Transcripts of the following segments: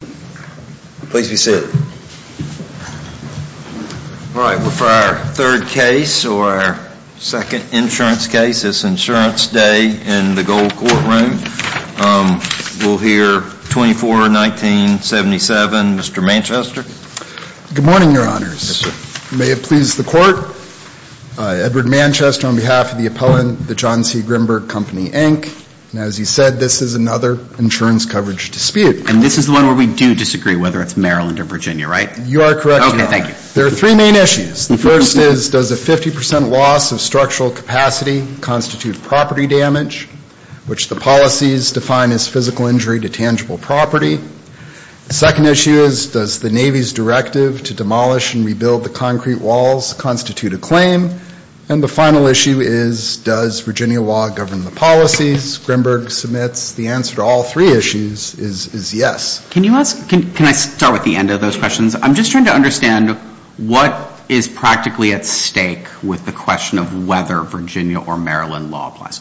Please be seated. All right, we're for our third case, or our second insurance case. It's Insurance Day in the Gold Courtroom. We'll hear 24-19-77. Mr. Manchester? Good morning, Your Honors. May it please the Court? Edward Manchester on behalf of the appellant, the John C. Grimberg Company, Inc. And as you said, this is another insurance coverage dispute. And this is the one where we do disagree whether it's Maryland or Virginia, right? You are correct, Your Honor. Okay, thank you. There are three main issues. The first is, does a 50 percent loss of structural capacity constitute property damage, which the policies define as physical injury to tangible property? The second issue is, does the Navy's directive to demolish and rebuild the concrete walls constitute a claim? And the final issue is, does Virginia law govern the policies? The answer to all three issues is yes. Can I start with the end of those questions? I'm just trying to understand what is practically at stake with the question of whether Virginia or Maryland law applies.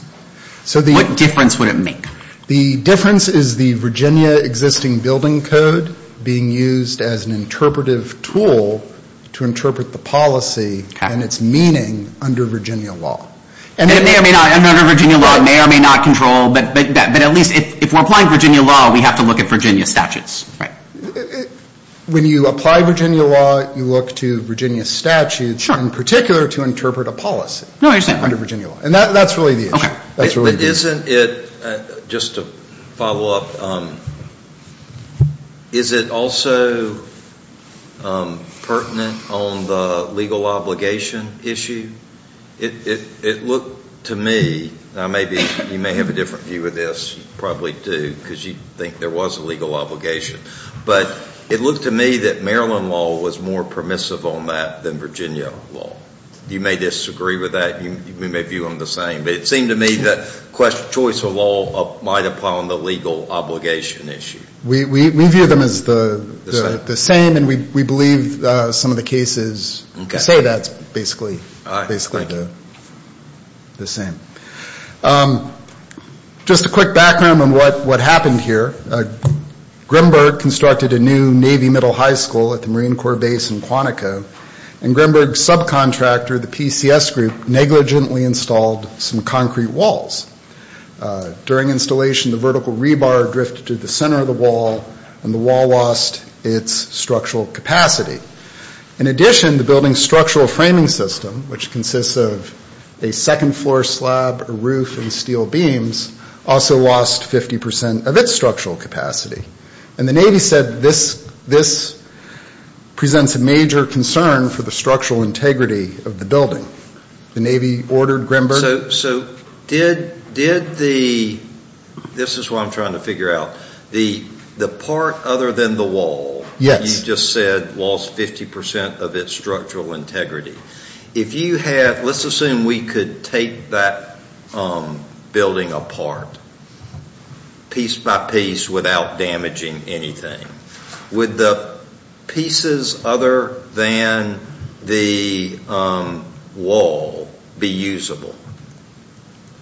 What difference would it make? The difference is the Virginia existing building code being used as an interpretive tool to interpret the policy and its meaning under Virginia law. Under Virginia law, it may or may not control. But at least if we're applying Virginia law, we have to look at Virginia statutes, right? When you apply Virginia law, you look to Virginia statutes in particular to interpret a policy under Virginia law. And that's really the issue. But isn't it, just to follow up, is it also pertinent on the legal obligation issue? It looked to me, now maybe you may have a different view of this, probably do, because you think there was a legal obligation. But it looked to me that Maryland law was more permissive on that than Virginia law. You may disagree with that. You may view them the same. But it seemed to me that choice of law might apply on the legal obligation issue. We view them as the same. And we believe some of the cases say that's basically the same. Just a quick background on what happened here. Grimberg constructed a new Navy middle high school at the Marine Corps base in Quantico. And Grimberg's subcontractor, the PCS group, negligently installed some concrete walls. During installation, the vertical rebar drifted to the center of the wall, and the wall lost its structural capacity. In addition, the building's structural framing system, which consists of a second floor slab, a roof, and steel beams, also lost 50% of its structural capacity. And the Navy said this presents a major concern for the structural integrity of the building. The Navy ordered Grimberg? So did the – this is what I'm trying to figure out. The part other than the wall that you just said lost 50% of its structural integrity. If you had – let's assume we could take that building apart piece by piece without damaging anything. Would the pieces other than the wall be usable?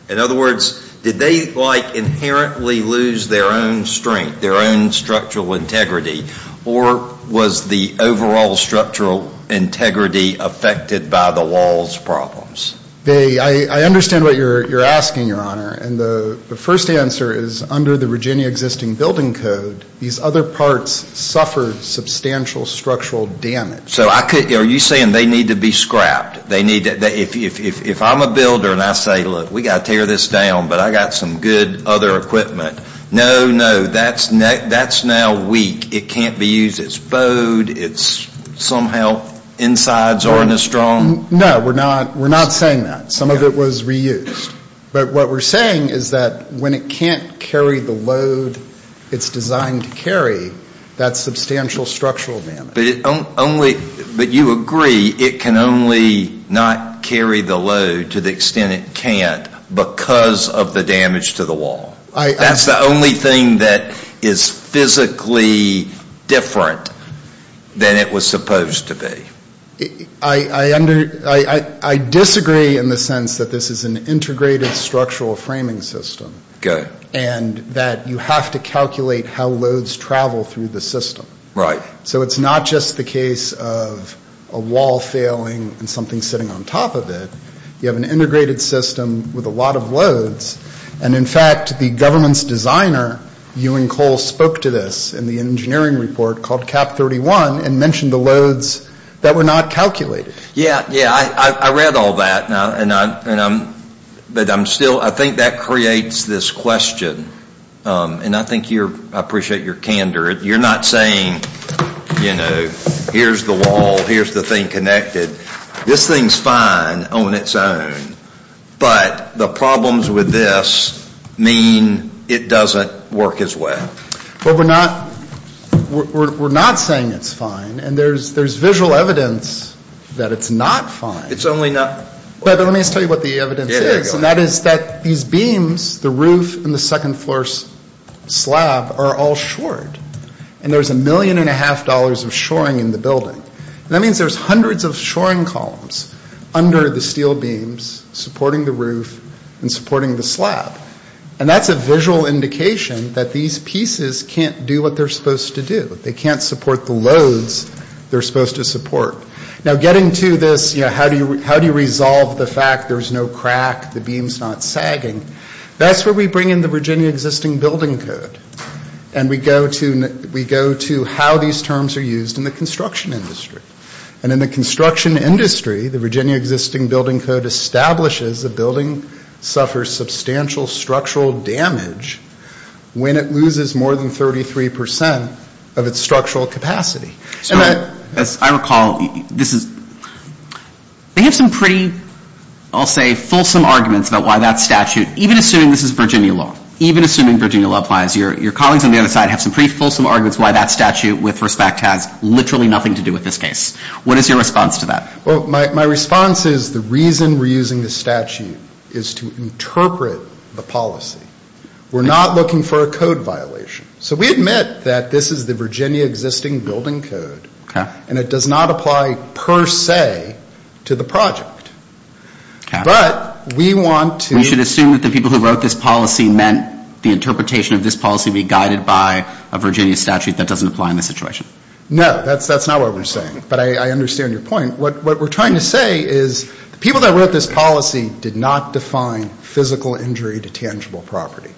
In other words, did they, like, inherently lose their own strength, their own structural integrity? Or was the overall structural integrity affected by the wall's problems? I understand what you're asking, Your Honor. And the first answer is under the Virginia existing building code, these other parts suffered substantial structural damage. So I could – are you saying they need to be scrapped? They need – if I'm a builder and I say, look, we've got to tear this down, but I've got some good other equipment. No, no, that's now weak. It can't be used. It's bowed. It's somehow insides aren't as strong. No, we're not saying that. Some of it was reused. But what we're saying is that when it can't carry the load it's designed to carry, that's substantial structural damage. But only – but you agree it can only not carry the load to the extent it can't because of the damage to the wall. That's the only thing that is physically different than it was supposed to be. I disagree in the sense that this is an integrated structural framing system. Okay. And that you have to calculate how loads travel through the system. Right. So it's not just the case of a wall failing and something sitting on top of it. You have an integrated system with a lot of loads. And, in fact, the government's designer, Ewing Cole, spoke to this in the engineering report called Cap 31 and mentioned the loads that were not calculated. Yeah, yeah. I read all that. But I'm still – I think that creates this question. And I think you're – I appreciate your candor. You're not saying, you know, here's the wall, here's the thing connected. This thing's fine on its own. But the problems with this mean it doesn't work its way. Well, we're not saying it's fine. And there's visual evidence that it's not fine. It's only not – But let me just tell you what the evidence is. And that is that these beams, the roof and the second floor slab, are all shored. And there's a million and a half dollars of shoring in the building. And that means there's hundreds of shoring columns under the steel beams supporting the roof and supporting the slab. And that's a visual indication that these pieces can't do what they're supposed to do. They can't support the loads they're supposed to support. Now, getting to this, you know, how do you resolve the fact there's no crack, the beam's not sagging, that's where we bring in the Virginia existing building code. And we go to how these terms are used in the construction industry. And in the construction industry, the Virginia existing building code establishes a building suffers substantial structural damage when it loses more than 33 percent of its structural capacity. As I recall, this is – they have some pretty, I'll say, fulsome arguments about why that statute, even assuming this is Virginia law, even assuming Virginia law applies, your colleagues on the other side have some pretty fulsome arguments why that statute, with respect, has literally nothing to do with this case. What is your response to that? Well, my response is the reason we're using this statute is to interpret the policy. We're not looking for a code violation. So we admit that this is the Virginia existing building code. And it does not apply per se to the project. But we want to – We should assume that the people who wrote this policy meant the interpretation of this policy be guided by a Virginia statute that doesn't apply in this situation. No, that's not what we're saying. But I understand your point. What we're trying to say is the people that wrote this policy did not define physical injury to tangible property.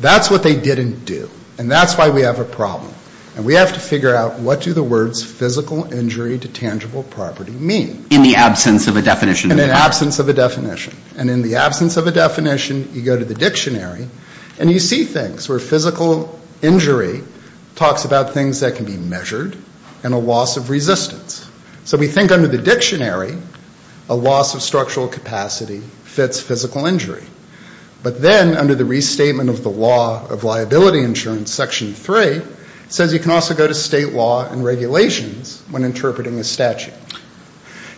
That's what they didn't do. And that's why we have a problem. And we have to figure out what do the words physical injury to tangible property mean. In the absence of a definition. In the absence of a definition. And in the absence of a definition, you go to the dictionary, and you see things where physical injury talks about things that can be measured and a loss of resistance. So we think under the dictionary, a loss of structural capacity fits physical injury. But then under the restatement of the law of liability insurance, Section 3, it says you can also go to state law and regulations when interpreting a statute.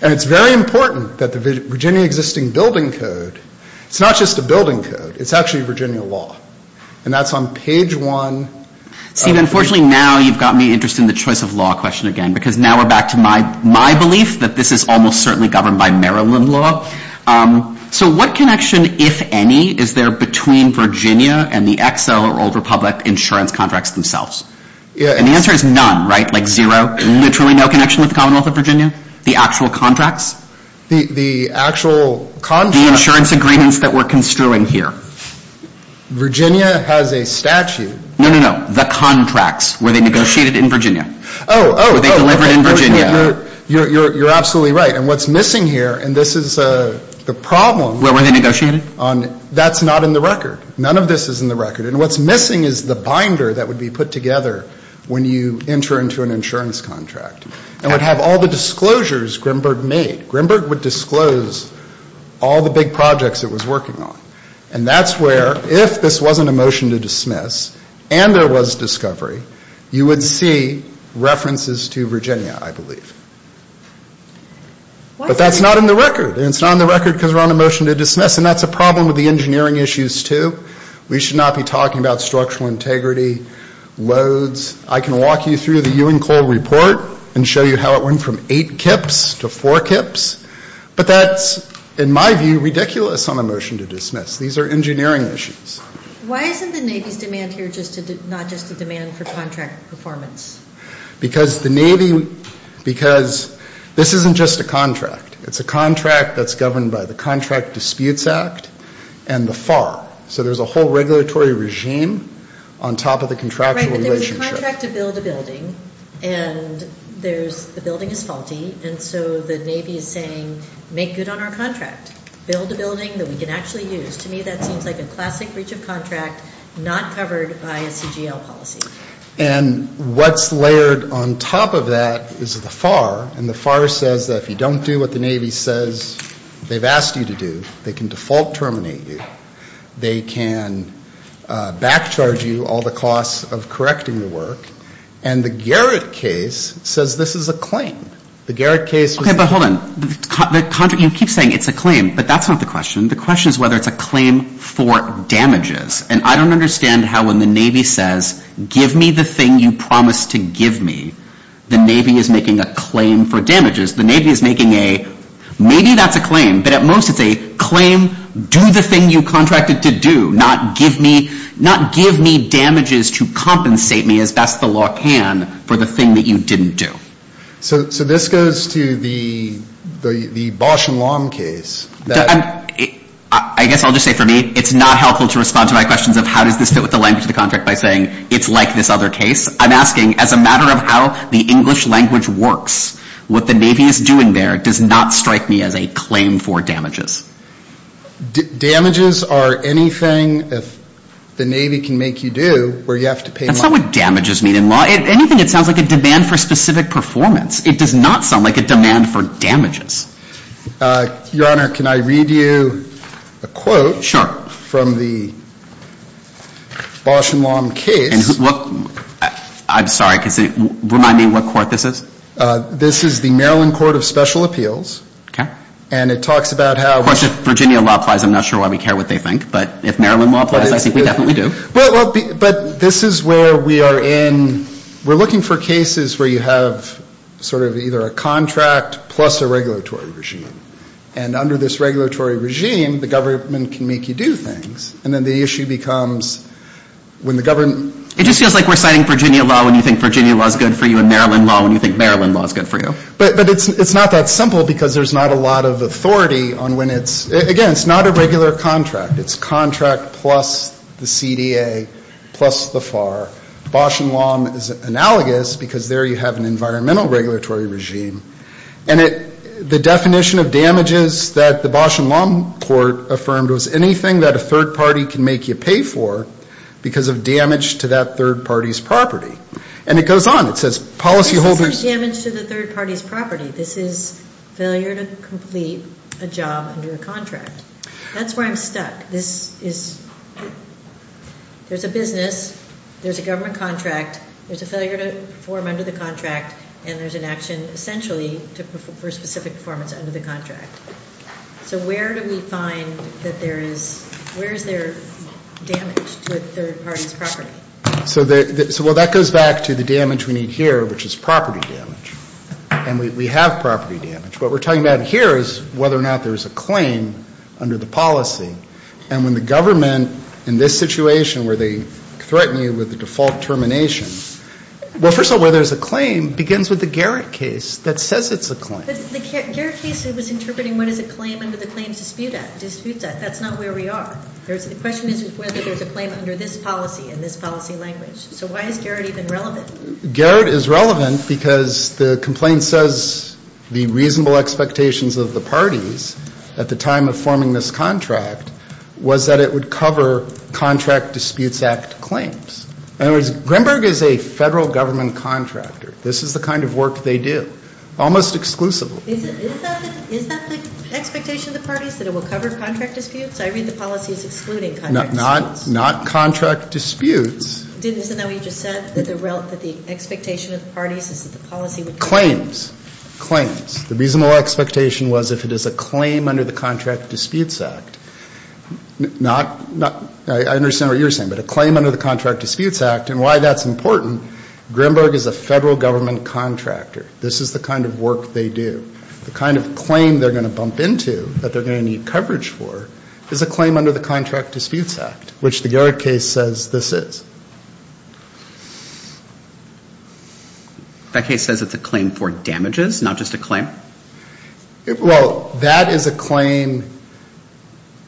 And it's very important that the Virginia existing building code, it's not just a building code, it's actually Virginia law. And that's on page one. Unfortunately, now you've got me interested in the choice of law question again. Because now we're back to my belief that this is almost certainly governed by Maryland law. So what connection, if any, is there between Virginia and the Excel or Old Republic insurance contracts themselves? And the answer is none, right? Like zero, literally no connection with the Commonwealth of Virginia? The actual contracts? The actual contracts? The insurance agreements that we're construing here. Virginia has a statute. No, no, no. The contracts. Where they negotiated in Virginia. Oh, oh. Where they delivered in Virginia. You're absolutely right. And what's missing here, and this is the problem. Where were they negotiated? That's not in the record. None of this is in the record. And what's missing is the binder that would be put together when you enter into an insurance contract. And it would have all the disclosures Grimberg made. Grimberg would disclose all the big projects it was working on. And that's where, if this wasn't a motion to dismiss and there was discovery, you would see references to Virginia, I believe. But that's not in the record. And it's not in the record because we're on a motion to dismiss. And that's a problem with the engineering issues, too. We should not be talking about structural integrity, loads. I can walk you through the Ewing-Cole report and show you how it went from eight kips to four kips. But that's, in my view, ridiculous on a motion to dismiss. These are engineering issues. Why isn't the Navy's demand here not just a demand for contract performance? Because the Navy, because this isn't just a contract. It's a contract that's governed by the Contract Disputes Act and the FAR. So there's a whole regulatory regime on top of the contractual relationship. Right, but there's a contract to build a building, and the building is faulty. And so the Navy is saying, make good on our contract. Build a building that we can actually use. To me, that seems like a classic breach of contract not covered by a CGL policy. And what's layered on top of that is the FAR. And the FAR says that if you don't do what the Navy says they've asked you to do, they can default terminate you. They can backcharge you all the costs of correcting the work. And the Garrett case says this is a claim. The Garrett case was a claim. Okay, but hold on. You keep saying it's a claim, but that's not the question. The question is whether it's a claim for damages. And I don't understand how when the Navy says, give me the thing you promised to give me, the Navy is making a claim for damages. The Navy is making a, maybe that's a claim, but at most it's a claim, do the thing you contracted to do, not give me damages to compensate me as best the law can for the thing that you didn't do. So this goes to the Bosch and Lomb case. I guess I'll just say for me it's not helpful to respond to my questions of how does this fit with the language of the contract by saying it's like this other case. I'm asking as a matter of how the English language works, what the Navy is doing there does not strike me as a claim for damages. Damages are anything the Navy can make you do where you have to pay money. That's not what damages mean in law. Anything that sounds like a demand for specific performance, it does not sound like a demand for damages. Your Honor, can I read you a quote from the Bosch and Lomb case? I'm sorry, remind me what court this is? This is the Maryland Court of Special Appeals. Okay. And it talks about how we Of course if Virginia law applies I'm not sure why we care what they think, but if Maryland law applies I think we definitely do. But this is where we are in, we're looking for cases where you have sort of either a contract plus a regulatory regime. And under this regulatory regime the government can make you do things. And then the issue becomes when the government It just feels like we're citing Virginia law when you think Virginia law is good for you and Maryland law when you think Maryland law is good for you. But it's not that simple because there's not a lot of authority on when it's, again, it's not a regular contract. It's contract plus the CDA plus the FAR. Bosch and Lomb is analogous because there you have an environmental regulatory regime. And the definition of damages that the Bosch and Lomb court affirmed was anything that a third party can make you pay for because of damage to that third party's property. And it goes on, it says policyholders This isn't damage to the third party's property, this is failure to complete a job under a contract. That's where I'm stuck. There's a business, there's a government contract, there's a failure to perform under the contract, and there's an action essentially for specific performance under the contract. So where do we find that there is, where is there damage to a third party's property? So that goes back to the damage we need here, which is property damage. And we have property damage. What we're talking about here is whether or not there's a claim under the policy. And when the government in this situation where they threaten you with the default termination, well, first of all, where there's a claim begins with the Garrett case that says it's a claim. The Garrett case was interpreting what is a claim under the Claims Dispute Act. That's not where we are. The question isn't whether there's a claim under this policy and this policy language. So why is Garrett even relevant? Garrett is relevant because the complaint says the reasonable expectations of the parties at the time of forming this contract was that it would cover Contract Disputes Act claims. In other words, Greenberg is a federal government contractor. This is the kind of work they do, almost exclusively. Not Contract Disputes. Claims. I understand what you're saying, but a claim under the Contract Disputes Act, and why that's important, Greenberg is a federal government contractor. This is the kind of work they do. This is a claim under the Contract Disputes Act, which the Garrett case says this is. That case says it's a claim for damages, not just a claim? Well, that is a claim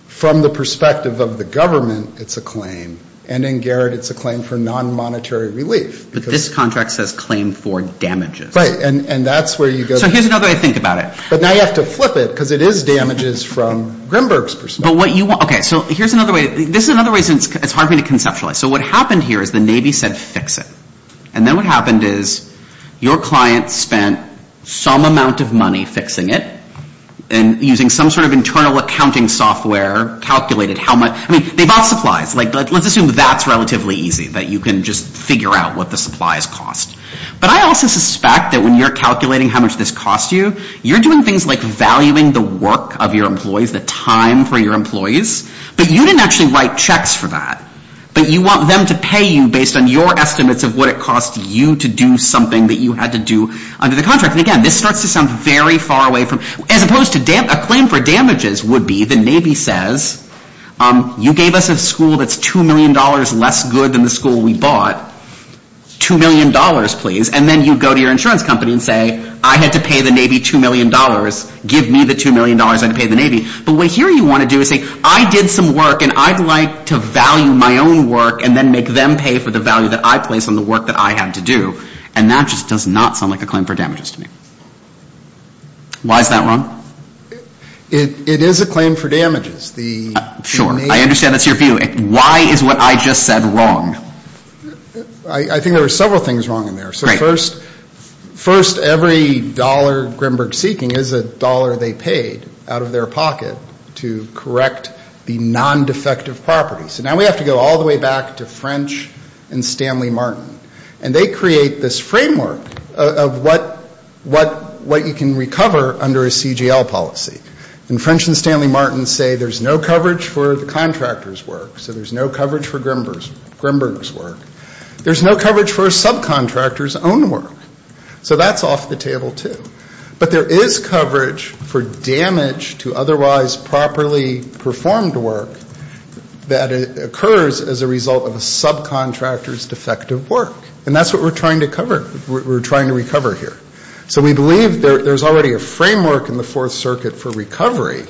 from the perspective of the government, it's a claim. And in Garrett it's a claim for nonmonetary relief. But this contract says claim for damages. So here's another way to think about it. But now you have to flip it, because it is damages from Greenberg's perspective. This is another reason it's hard for me to conceptualize. So what happened here is the Navy said fix it. And then what happened is your client spent some amount of money fixing it, and using some sort of internal accounting software calculated how much. I mean, they bought supplies. Let's assume that's relatively easy, that you can just figure out what the supplies cost. But I also suspect that when you're calculating how much this costs you, you're doing things like valuing the work of your employees, the time for your employees. But you didn't actually write checks for that. But you want them to pay you based on your estimates of what it costs you to do something that you had to do under the contract. And again, this starts to sound very far away. As opposed to a claim for damages would be the Navy says you gave us a school that's $2 million less good than the school we bought. $2 million, please. And then you go to your insurance company and say I had to pay the Navy $2 million. Give me the $2 million I had to pay the Navy. But what here you want to do is say I did some work and I'd like to value my own work and then make them pay for the value that I place on the work that I had to do. And that just does not sound like a claim for damages to me. Why is that wrong? It is a claim for damages. Sure. I understand that's your view. Why is what I just said wrong? I think there are several things wrong in there. First, every dollar Grinberg is seeking is a dollar they paid out of their pocket to correct the non-defective property. So now we have to go all the way back to French and Stanley Martin. And they create this framework of what you can recover under a CGL policy. And French and Stanley Martin say there's no coverage for the contractor's work. So there's no coverage for Grinberg's work. There's no coverage for a subcontractor's own work. So that's off the table, too. But there is coverage for damage to otherwise properly performed work that occurs as a result of a subcontractor's defective work. And that's what we're trying to recover here. So we believe there's already a framework in the Fourth Circuit for recovery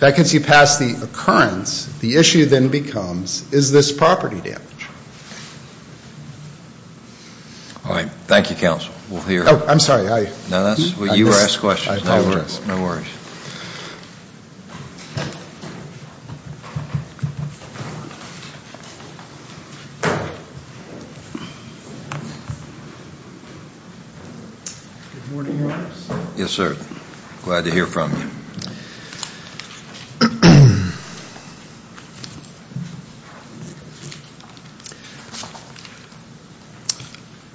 that gets you past the occurrence. The issue then becomes, is this property damage? All right. Thank you, counsel. I'm sorry. Good morning. Yes, sir. Glad to hear from you.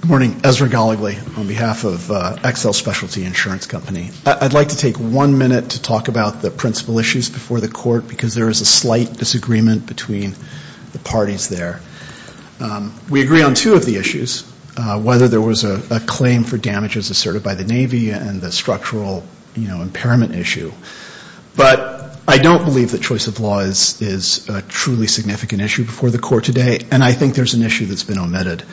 Good morning. Ezra Goligly on behalf of Excel Specialty Insurance Company. I'd like to take one minute to talk about the principal issues before the court because there is a slight disagreement between the parties there. We agree on two of the issues, whether there was a claim for damages asserted by the Navy and the structural impairment issue. But I don't believe that choice of law is a truly significant issue before the court today. And I think there's an issue that's been omitted.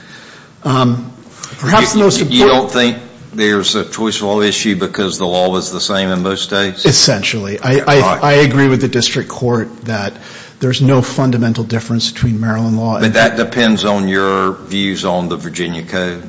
You don't think there's a choice of law issue because the law is the same in most states? Essentially. I agree with the district court that there's no fundamental difference between Maryland law and Virginia code. But that depends on your views on the Virginia code.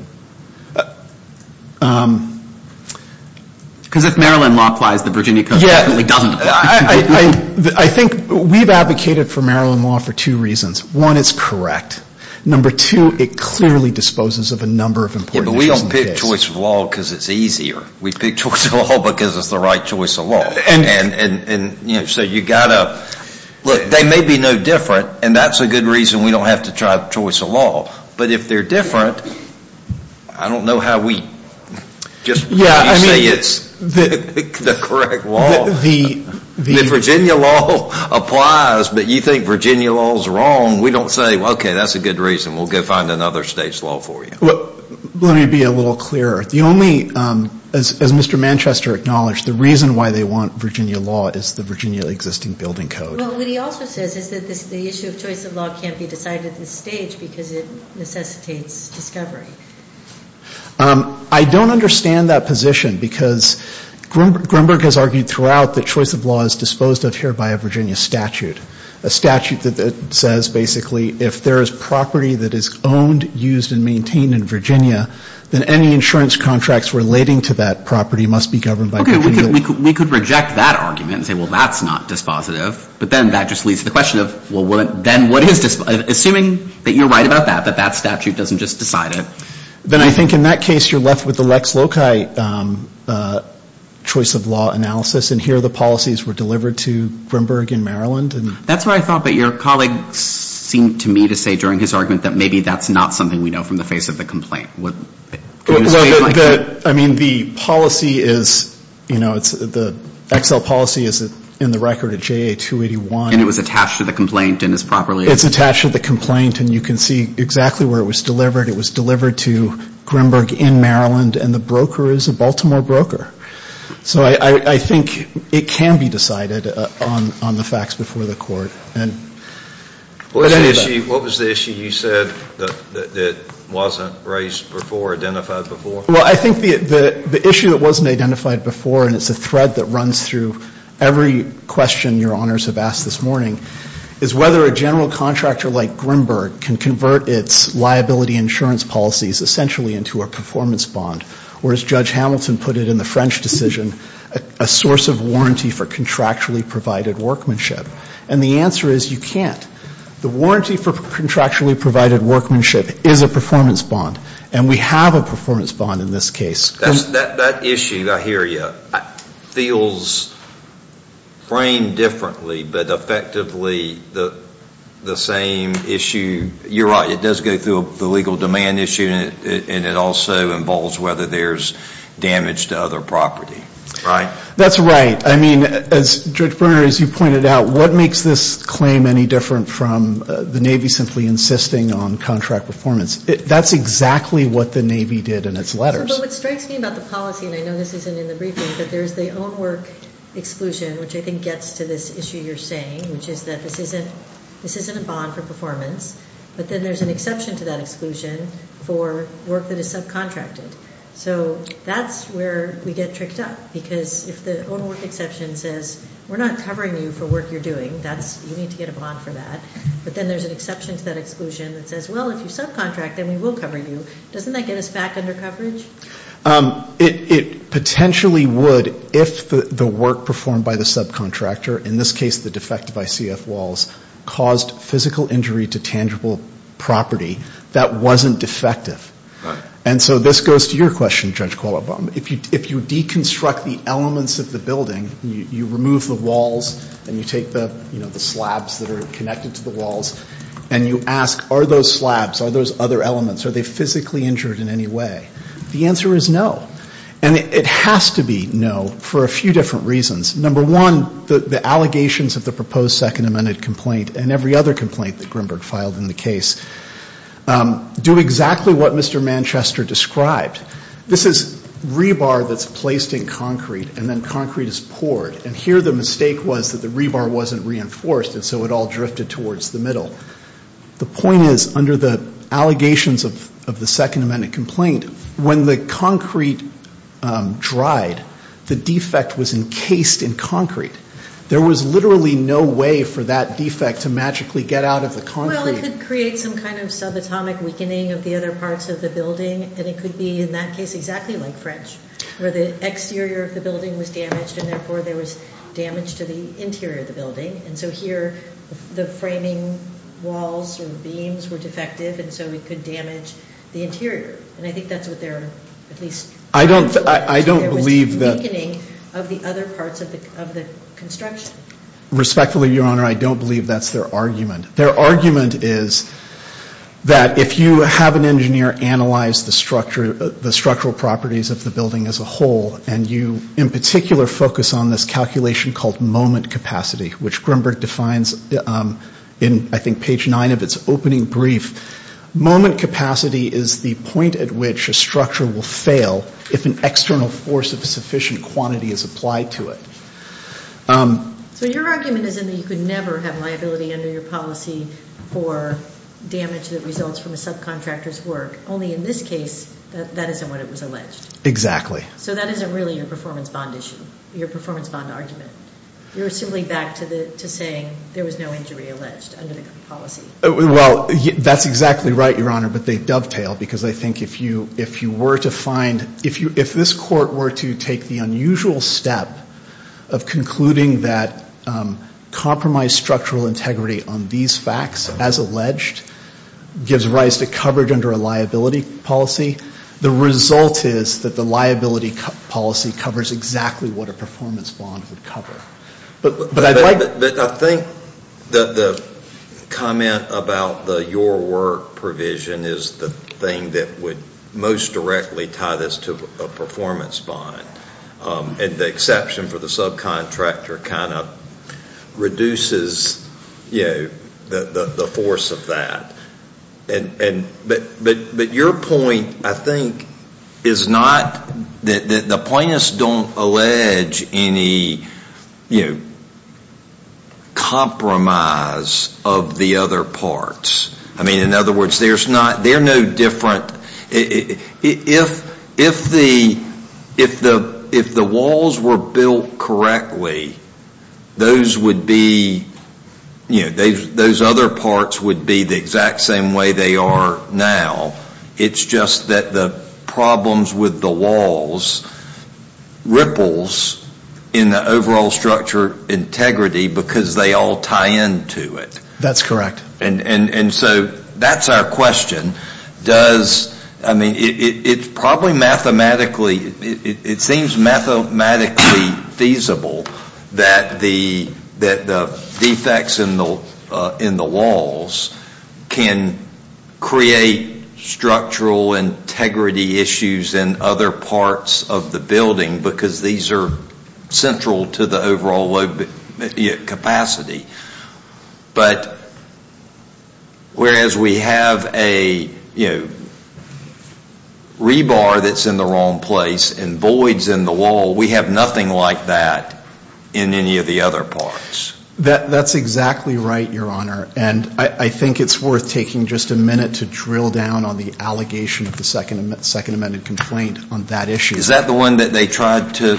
Because if Maryland law applies, the Virginia code definitely doesn't. I think we've advocated for Maryland law for two reasons. One, it's correct. Number two, it clearly disposes of a number of important issues. We don't pick choice of law because it's easier. We pick choice of law because it's the right choice of law. They may be no different, and that's a good reason we don't have to try choice of law. But if they're different, I don't know how we just say it's the correct law. If Virginia law applies, but you think Virginia law is wrong, we don't say, okay, that's a good reason. We'll go find another state's law for you. Let me be a little clearer. The only, as Mr. Manchester acknowledged, the reason why they want Virginia law is the Virginia existing building code. Well, what he also says is that the issue of choice of law can't be decided at this stage because it necessitates discovery. I don't understand that position because Grunberg has argued throughout that choice of law is disposed of here by a Virginia statute. A statute that says basically if there is property that is owned, used and maintained in Virginia, then any insurance contracts relating to that property must be governed by Virginia law. Okay. We could reject that argument and say, well, that's not dispositive. But then that just leads to the question of, well, then what is dispositive? Assuming that you're right about that, that that statute doesn't just decide it. Then I think in that case you're left with the Lex Loci choice of law analysis, and here the policies were delivered to Grunberg in Maryland. That's what I thought, but your colleague seemed to me to say during his argument that maybe that's not something we know from the face of the complaint. I mean, the policy is, you know, the XL policy is in the record at JA 281. And it was attached to the complaint and is properly. It's attached to the complaint and you can see exactly where it was delivered. It was delivered to Grunberg in Maryland and the broker is a Baltimore broker. So I think it can be decided on the facts before the court. What was the issue you said that wasn't raised before, identified before? Well, I think the issue that wasn't identified before, and it's a thread that runs through every question your honors have asked this morning, is whether a general contractor like Grunberg can convert its liability insurance policies essentially into a performance bond. Or as Judge Hamilton put it in the French decision, a source of warranty for contractually provided workmanship. And the answer is you can't. The warranty for contractually provided workmanship is a performance bond. And we have a performance bond in this case. That issue, I hear you, feels framed differently, but effectively the same issue. You're right, it does go through the legal demand issue and it also involves whether there's damage to other property, right? That's right. I mean, Judge Berner, as you pointed out, what makes this claim any different from the Navy simply insisting on contract performance? That's exactly what the Navy did in its letters. But what strikes me about the policy, and I know this isn't in the briefing, but there's the own work exclusion, which I think gets to this issue you're saying, which is that this isn't a bond for performance, but then there's an exception to that exclusion for work that is subcontracted. So that's where we get tricked up, because if the own work exception says we're not covering you for work you're doing, you need to get a bond for that. But then there's an exception to that exclusion that says, well, if you subcontract, then we will cover you. Doesn't that get us back under coverage? It potentially would if the work performed by the subcontractor, in this case the defective ICF walls, caused physical injury to tangible property that wasn't defective. And so this goes to your question, Judge Qualabong. If you deconstruct the elements of the building, you remove the walls and you take the slabs that are connected to the walls, and you ask, are those slabs, are those other elements, are they physically injured in any way? The answer is no. And it has to be no for a few different reasons. Number one, the allegations of the proposed Second Amendment complaint and every other complaint that Grimberg filed in the case do exactly what Mr. Manchester described. This is rebar that's placed in concrete, and then concrete is poured. And here the mistake was that the rebar wasn't reinforced, and so it all drifted towards the middle. The point is, under the allegations of the Second Amendment complaint, when the concrete dried, the defect was encased in concrete. There was literally no way for that defect to magically get out of the concrete. Well, it could create some kind of subatomic weakening of the other parts of the building, and it could be, in that case, exactly like French, where the exterior of the building was damaged, and therefore there was damage to the interior of the building. And so here the framing walls or beams were defective, and so it could damage the interior. And I think that's what they're, at least, there was weakening of the other parts of the construction. Respectfully, Your Honor, I don't believe that's their argument. Their argument is that if you have an engineer analyze the structural properties of the building as a whole, and you in particular focus on this calculation called moment capacity, which Grinberg defines in, I think, page 9 of its opening brief, moment capacity is the point at which a structure will fail if an external force of sufficient quantity is applied to it. So your argument is that you could never have liability under your policy for damage that results from a subcontractor's work. Only in this case, that isn't what it was alleged. Exactly. So that isn't really your performance bond issue, your performance bond argument. You're simply back to saying there was no injury alleged under the policy. Well, that's exactly right, Your Honor, but they dovetail, because I think if you were to find, if this court were to take the unusual step of concluding that compromised structural integrity on these facts, as alleged, gives rise to coverage under a liability policy, the result is that the liability policy covers exactly what a performance bond would cover. But I'd like... I think that the comment about the your work provision is the thing that would most directly tie this to a performance bond, and the exception for the subcontractor kind of reduces, you know, the force of that. But your point, I think, is not... The plaintiffs don't allege any, you know, compromise of the other parts. I mean, in other words, there's not... If the walls were built correctly, those would be, you know, those other parts would be the exact same way they are now. It's just that the problems with the walls ripples in the overall structure integrity, because they all tie into it. That's correct. And so that's our question. I mean, it's probably mathematically... It seems mathematically feasible that the defects in the walls can create structural integrity issues in other parts of the building, because these are central to the overall capacity. But whereas we have a, you know, rebar that's in the wrong place and voids in the wall, we have nothing like that in any of the other parts. That's exactly right, Your Honor. And I think it's worth taking just a minute to drill down on the allegation of the Second Amended Complaint on that issue. Is that the one that they tried to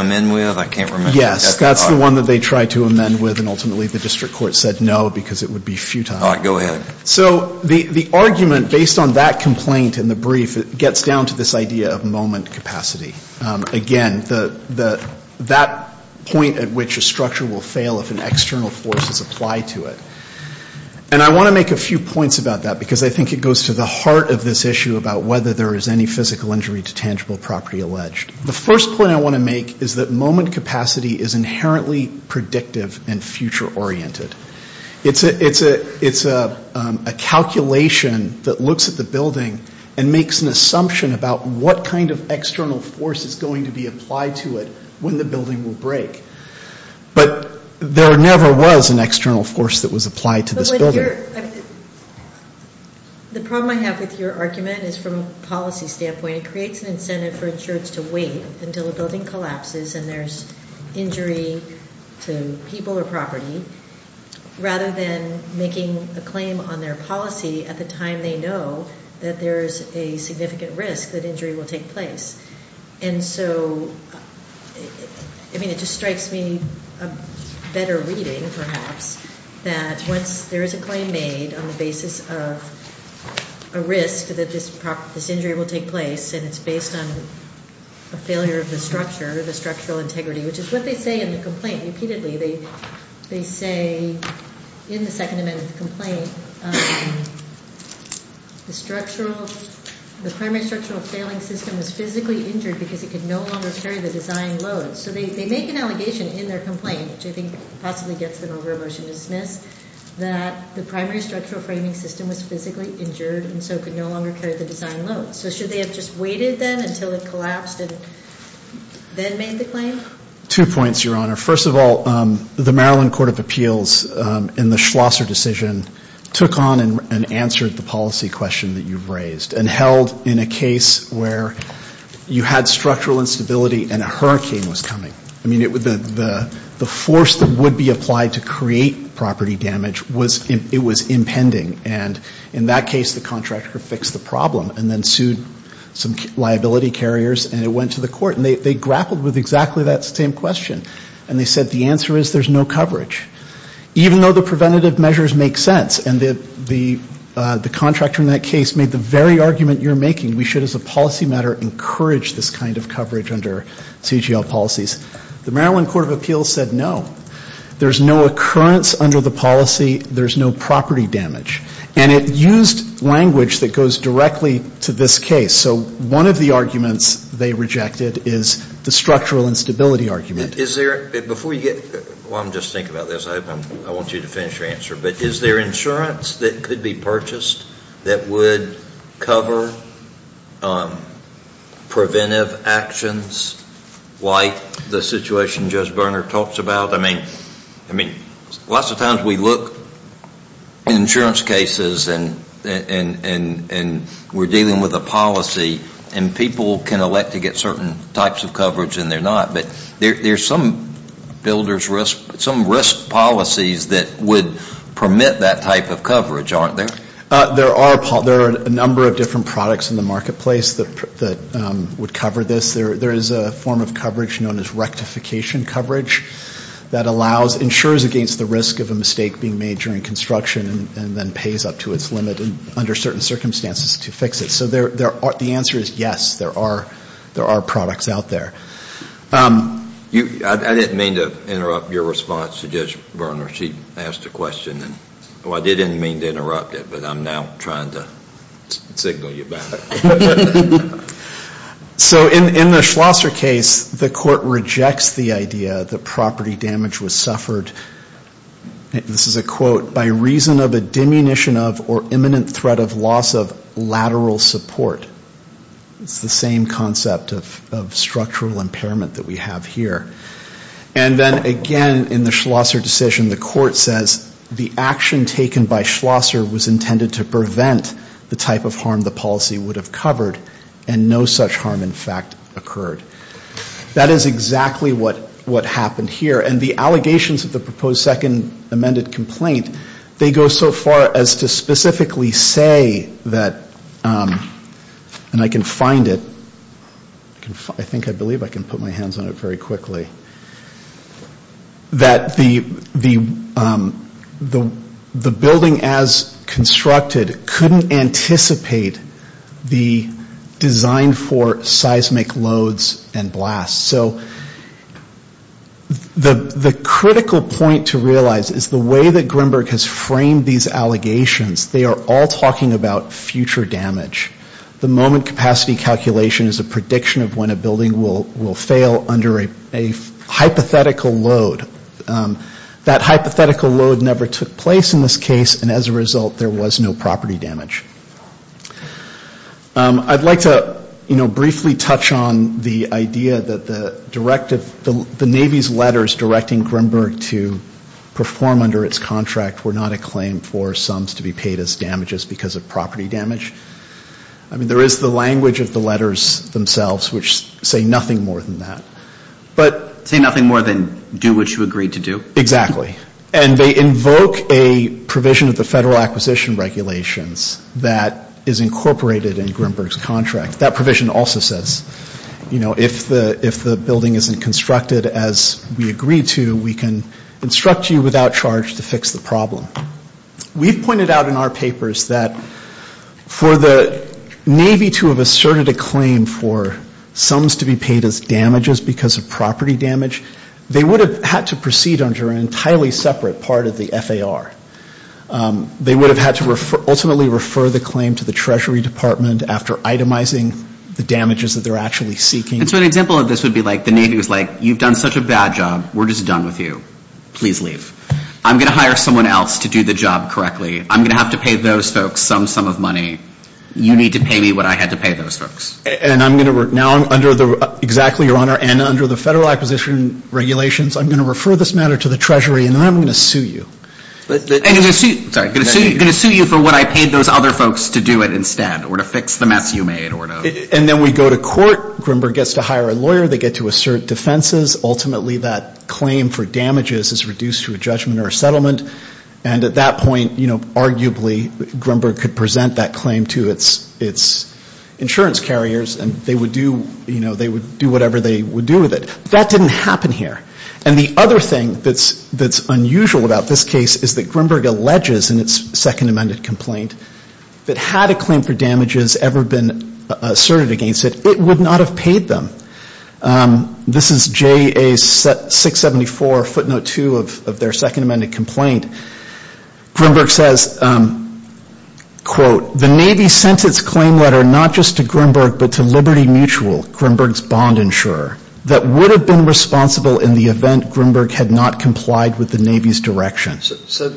amend with? I can't remember. Yes, that's the one that they tried to amend with, and ultimately the district court said no, because it would be futile. All right, go ahead. So the argument based on that complaint in the brief gets down to this idea of moment capacity. Again, that point at which a structure will fail if an external force is applied to it. And I want to make a few points about that, because I think it goes to the heart of this issue about whether there is any physical injury to tangible property alleged. The first point I want to make is that moment capacity is inherently predictive and future-oriented. It's a calculation that looks at the building and makes an assumption about what kind of external force is applied to it. What kind of external force is going to be applied to it when the building will break? But there never was an external force that was applied to this building. The problem I have with your argument is from a policy standpoint, it creates an incentive for insurance to wait until a building collapses and there's injury to people or property, rather than making a claim on their policy at the time they know that there's a significant risk that injury will take place. And so, I mean, it just strikes me, a better reading, perhaps, that once there is a claim made on the basis of a risk that this injury will take place, and it's based on a failure of the structure, the structural integrity, which is what they say in the complaint repeatedly. They say in the Second Amendment complaint, the primary structural failing system was physically injured because it couldn't move. It could no longer carry the design load. So they make an allegation in their complaint, which I think possibly gets them over a motion to dismiss, that the primary structural framing system was physically injured and so could no longer carry the design load. So should they have just waited, then, until it collapsed and then made the claim? Two points, Your Honor. First of all, the Maryland Court of Appeals in the Schlosser decision took on and answered the policy question that you've raised and held in a case where you had structural failure of the structure. You had structural instability and a hurricane was coming. I mean, the force that would be applied to create property damage, it was impending. And in that case, the contractor fixed the problem and then sued some liability carriers and it went to the court. And they grappled with exactly that same question. And they said the answer is there's no coverage. Even though the preventative measures make sense and the contractor in that case made the very argument you're making, we should, as a policy matter, encourage this kind of coverage under CGL policies. The Maryland Court of Appeals said no. There's no occurrence under the policy. There's no property damage. And it used language that goes directly to this case. So one of the arguments they rejected is the structural instability argument. Is there, before you get, well, I'm just thinking about this. I want you to finish your answer. But is there insurance that could be purchased that would cover preventive actions like the situation Judge Berner talks about? I mean, lots of times we look at insurance cases and we're dealing with a policy and people can elect to get certain types of coverage and they're not. But there's some risk policies that would permit that type of coverage, aren't there? There are a number of different products in the marketplace that would cover this. There is a form of coverage known as rectification coverage that allows, ensures against the risk of a mistake being made during construction and then pays up to its limit under certain circumstances to fix it. So the answer is yes, there are products out there. I didn't mean to interrupt your response to Judge Berner. She asked a question and, oh, I didn't mean to interrupt it, but I'm now trying to signal you back. So in the Schlosser case, the court rejects the idea that property damage was suffered, this is a quote, by reason of a diminution of or imminent threat of loss of lateral support. It's the same concept of structural impairment that we have here. And then again, in the Schlosser decision, the court says the action taken by Schlosser was intended to prevent the type of harm the policy would have covered and no such harm, in fact, occurred. That is exactly what happened here. And the allegations of the proposed second amended complaint, they go so far as to specifically say that, and I can find it, I think I believe I can put my hands on it very quickly, that the building as constructed couldn't anticipate the design for seismic loads and blasts. So the critical point to realize is the way that Greenberg has framed these allegations, they are all talking about future damage. The moment capacity calculation is a prediction of when a building will fail under a hypothetical load. That hypothetical load never took place in this case, and as a result, there was no property damage. I'd like to, you know, briefly touch on the idea that the directive, the Navy's letters directing Greenberg to perform under its contract were not a claim for sums to be paid. They were not paid as damages because of property damage. I mean, there is the language of the letters themselves, which say nothing more than that. But say nothing more than do what you agreed to do. Exactly. And they invoke a provision of the federal acquisition regulations that is incorporated in Greenberg's contract. That provision also says, you know, if the building isn't constructed as we agreed to, we can instruct you without charge to fix the problem. We've pointed out in our papers that for the Navy to have asserted a claim for sums to be paid as damages because of property damage, they would have had to proceed under an entirely separate part of the FAR. They would have had to ultimately refer the claim to the Treasury Department after itemizing the damages that they're actually seeking. And so an example of this would be like the Navy was like, you've done such a bad job, we're just done with you. Please leave. I'm going to hire someone else to do the job correctly. I'm going to have to pay those folks some sum of money. You need to pay me what I had to pay those folks. And I'm going to now under the, exactly, Your Honor, and under the federal acquisition regulations, I'm going to refer this matter to the Treasury, and then I'm going to sue you. And I'm going to sue you for what I paid those other folks to do it instead, or to fix the mess you made. And then we go to court. Grimberg gets to hire a lawyer. They get to assert defenses. Ultimately, that claim for damages is reduced to a judgment or a settlement. And at that point, arguably, Grimberg could present that claim to its insurance carriers, and they would do whatever they would do with it. That didn't happen here. And the other thing that's unusual about this case is that Grimberg alleges in its second amended complaint that had a claim for damages ever been asserted against it, it would not have paid them. This is JA674 footnote two of their second amended complaint. Grimberg says, quote, the Navy sent its claim letter not just to Grimberg, but to Liberty Mutual, Grimberg's bond insurer, that would have been responsible in the event Grimberg had not complied with the Navy's direction. So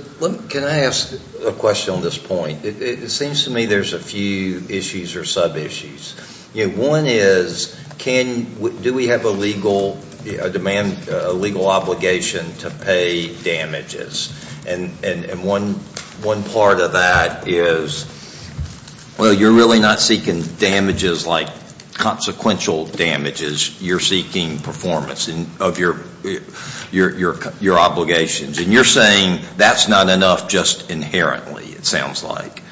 can I ask a question on this point? It seems to me there's a few issues or sub-issues. One is, do we have a legal obligation to pay damages? And one part of that is, well, you're really not seeking damages like consequential damages. You're seeking performance of your obligations. And you're saying that's not enough just inherently, it sounds like.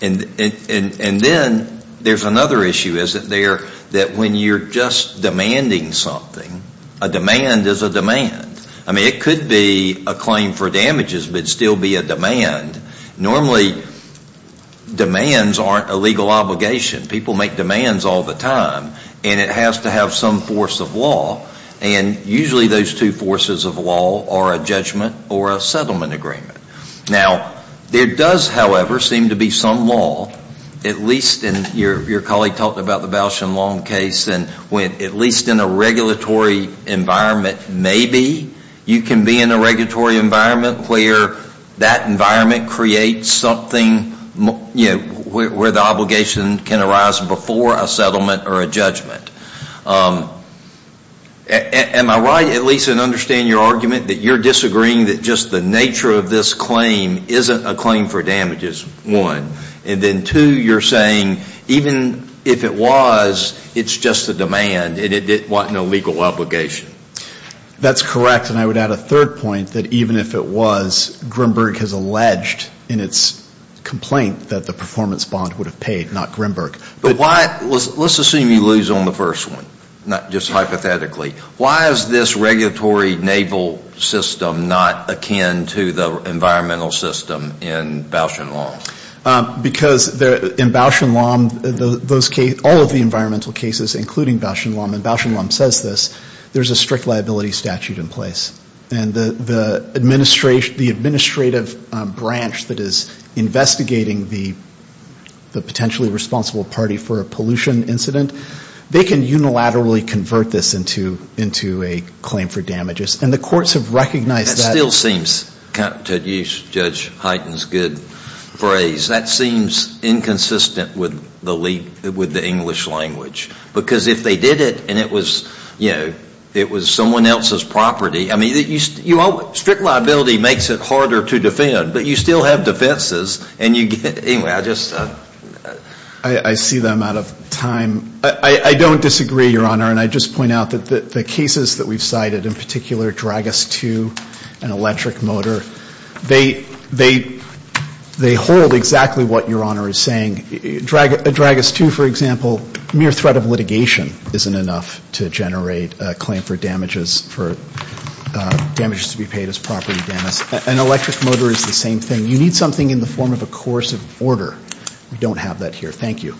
And then there's another issue, isn't there, that when you're just demanding something, a demand is a demand. I mean, it could be a claim for damages, but it would still be a demand. Normally demands aren't a legal obligation. People make demands all the time. And it has to have some force of law. And usually those two forces of law are a judgment or a settlement agreement. Now, there does, however, seem to be some law, at least in your colleague talked about the Bausch and Long case, when at least in a regulatory environment, maybe you can be in a regulatory environment where that environment creates something where the obligation can arise before a settlement or a judgment. Am I right at least in understanding your argument that you're disagreeing that just the nature of this claim isn't a claim for damages, one. And then two, you're saying even if it was, it's just a demand and it wasn't a legal obligation. That's correct. And I would add a third point that even if it was, Grimberg has alleged in its complaint that the performance bond would have paid, not Grimberg. But let's assume you lose on the first one, just hypothetically. Why is this regulatory naval system not akin to the environmental system in Bausch and Long? Because in Bausch and Long, all of the environmental cases, including Bausch and Long, and Bausch and Long says this, there's a strict liability statute in place. And the administrative branch that is investigating the potentially responsible party for a pollution incident, they can unilaterally convert this into a claim for damages. And the courts have recognized that. That still seems, to use Judge Hyten's good phrase, that seems inconsistent with the English language. Because if they did it and it was, you know, it was someone else's property, I mean, strict liability makes it harder to defend. But you still have defenses. I see that I'm out of time. I don't disagree, Your Honor. And I just point out that the cases that we've cited, in particular Dragas 2, an electric motor, they hold exactly what Your Honor is saying. Dragas 2, for example, mere threat of litigation isn't enough to generate a claim for damages, for damages to be paid as property damage. An electric motor is the same thing. You need something in the form of a coercive order. We don't have that here. Thank you.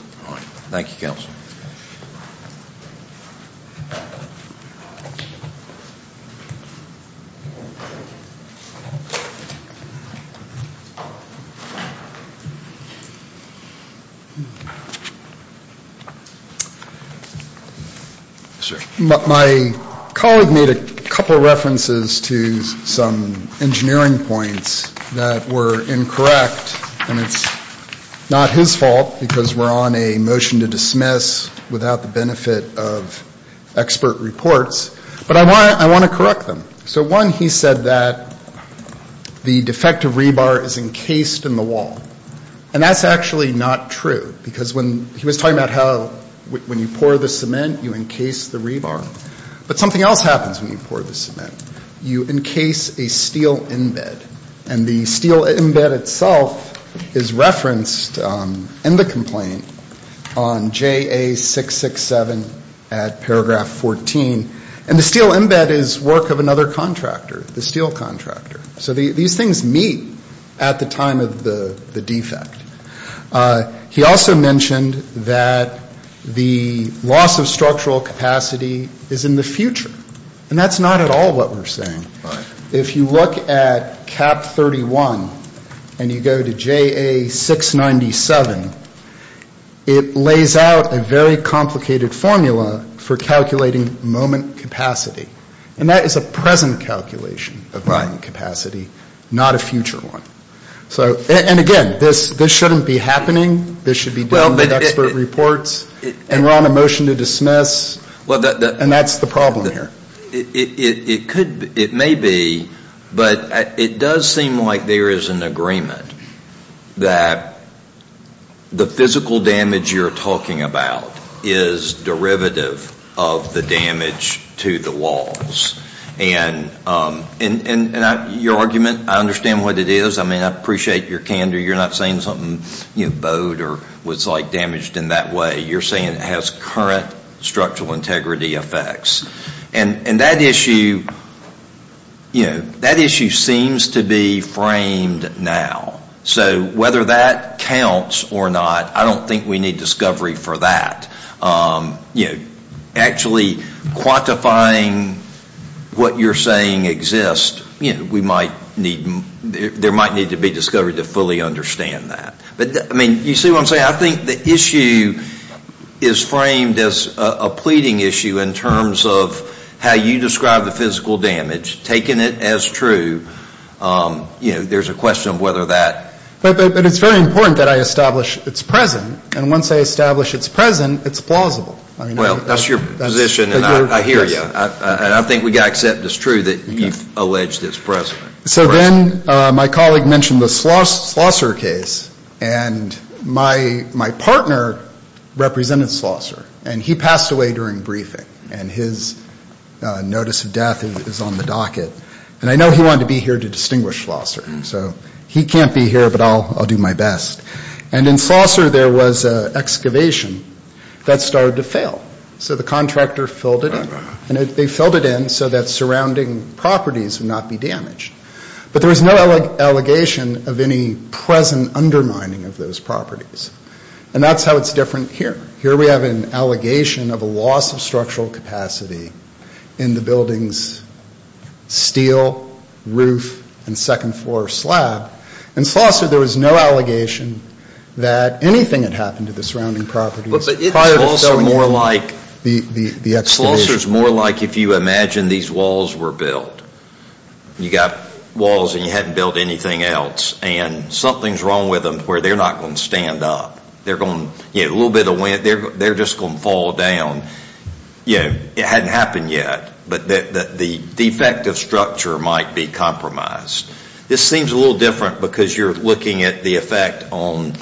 My colleague made a couple of references to some engineering points that were incorrect. And it's not his fault, because we're on a motion to dismiss without the benefit of expert reports. But I want to correct them. So, one, he said that the defective rebar is encased in the wall. And that's actually not true, because when he was talking about how when you pour the cement, you encase the rebar. But something else happens when you pour the cement. You encase a steel embed. And the steel embed itself is referenced in the complaint on JA667 at paragraph 14. And the steel embed is work of another contractor, the steel contractor. So these things meet at the time of the defect. He also mentioned that the loss of structural capacity is in the future. And that's not at all what we're saying. If you look at CAP 31 and you go to JA697, it lays out a very complicated formula for calculating moment capacity. And that is a present calculation of moment capacity, not a future one. And again, this shouldn't be happening. This should be done with expert reports. And we're on a motion to dismiss. And that's the problem here. It may be, but it does seem like there is an agreement that the physical damage you're talking about is derivative of the damage to the walls. And your argument, I understand what it is. I appreciate your candor. You're not saying something bowed or was damaged in that way. You're saying it has current structural integrity effects. And that issue seems to be framed now. So whether that counts or not, I don't think we need discovery for that. Actually quantifying what you're saying exists, there might need to be discovery to fully understand that. You see what I'm saying? I think the issue is framed as a pleading issue in terms of how you describe the physical damage, taking it as true. You know, there's a question of whether that... But it's very important that I establish it's present. And once I establish it's present, it's plausible. Well, that's your position, and I hear you. And I think we've got to accept it's true that you've alleged it's present. So then my colleague mentioned the Slosser case. And my partner represented Slosser. And he passed away during briefing. And his notice of death is on the docket. And I know he wanted to be here to distinguish Slosser. So he can't be here, but I'll do my best. And in Slosser there was an excavation that started to fail. So the contractor filled it in. And they filled it in so that surrounding properties would not be damaged. But there was no allegation of any present undermining of those properties. And that's how it's different here. Here we have an allegation of a loss of structural capacity in the building's steel roof and second floor slab. In Slosser there was no allegation that anything had happened to the surrounding properties prior to filling in the excavation. Slosser's more like if you imagine these walls were built. You've got walls and you haven't built anything else. And something's wrong with them where they're not going to stand up. They're just going to fall down. It hadn't happened yet. But the defective structure might be compromised. This seems a little different because you're looking at the effect on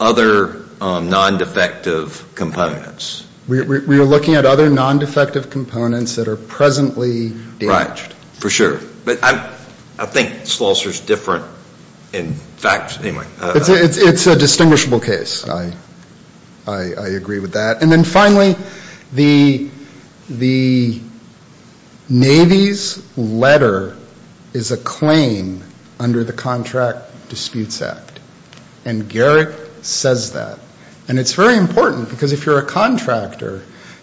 other non-defective components. We are looking at other non-defective components that are presently damaged. Right. For sure. But I think Slosser's different in fact. It's a distinguishable case. I agree with that. And then finally, the Navy's letter is a claim under the Contract Disputes Act. And Garrick says that. And it's very important because if you're a contractor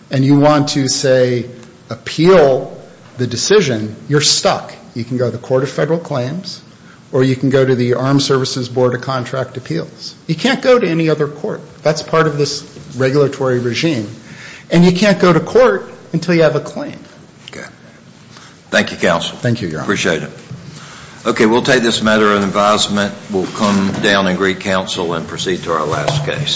and you want to say appeal the decision, you're stuck. You can go to the Court of Federal Claims or you can go to the Armed Services Board of Contract Appeals. You can't go to any other court. That's part of this regulatory regime. And you can't go to court until you have a claim. Okay. Thank you, Counsel. Thank you, Your Honor. Appreciate it. Okay. We'll take this matter in advisement. We'll come down and greet Counsel and proceed to our last case. Thank you.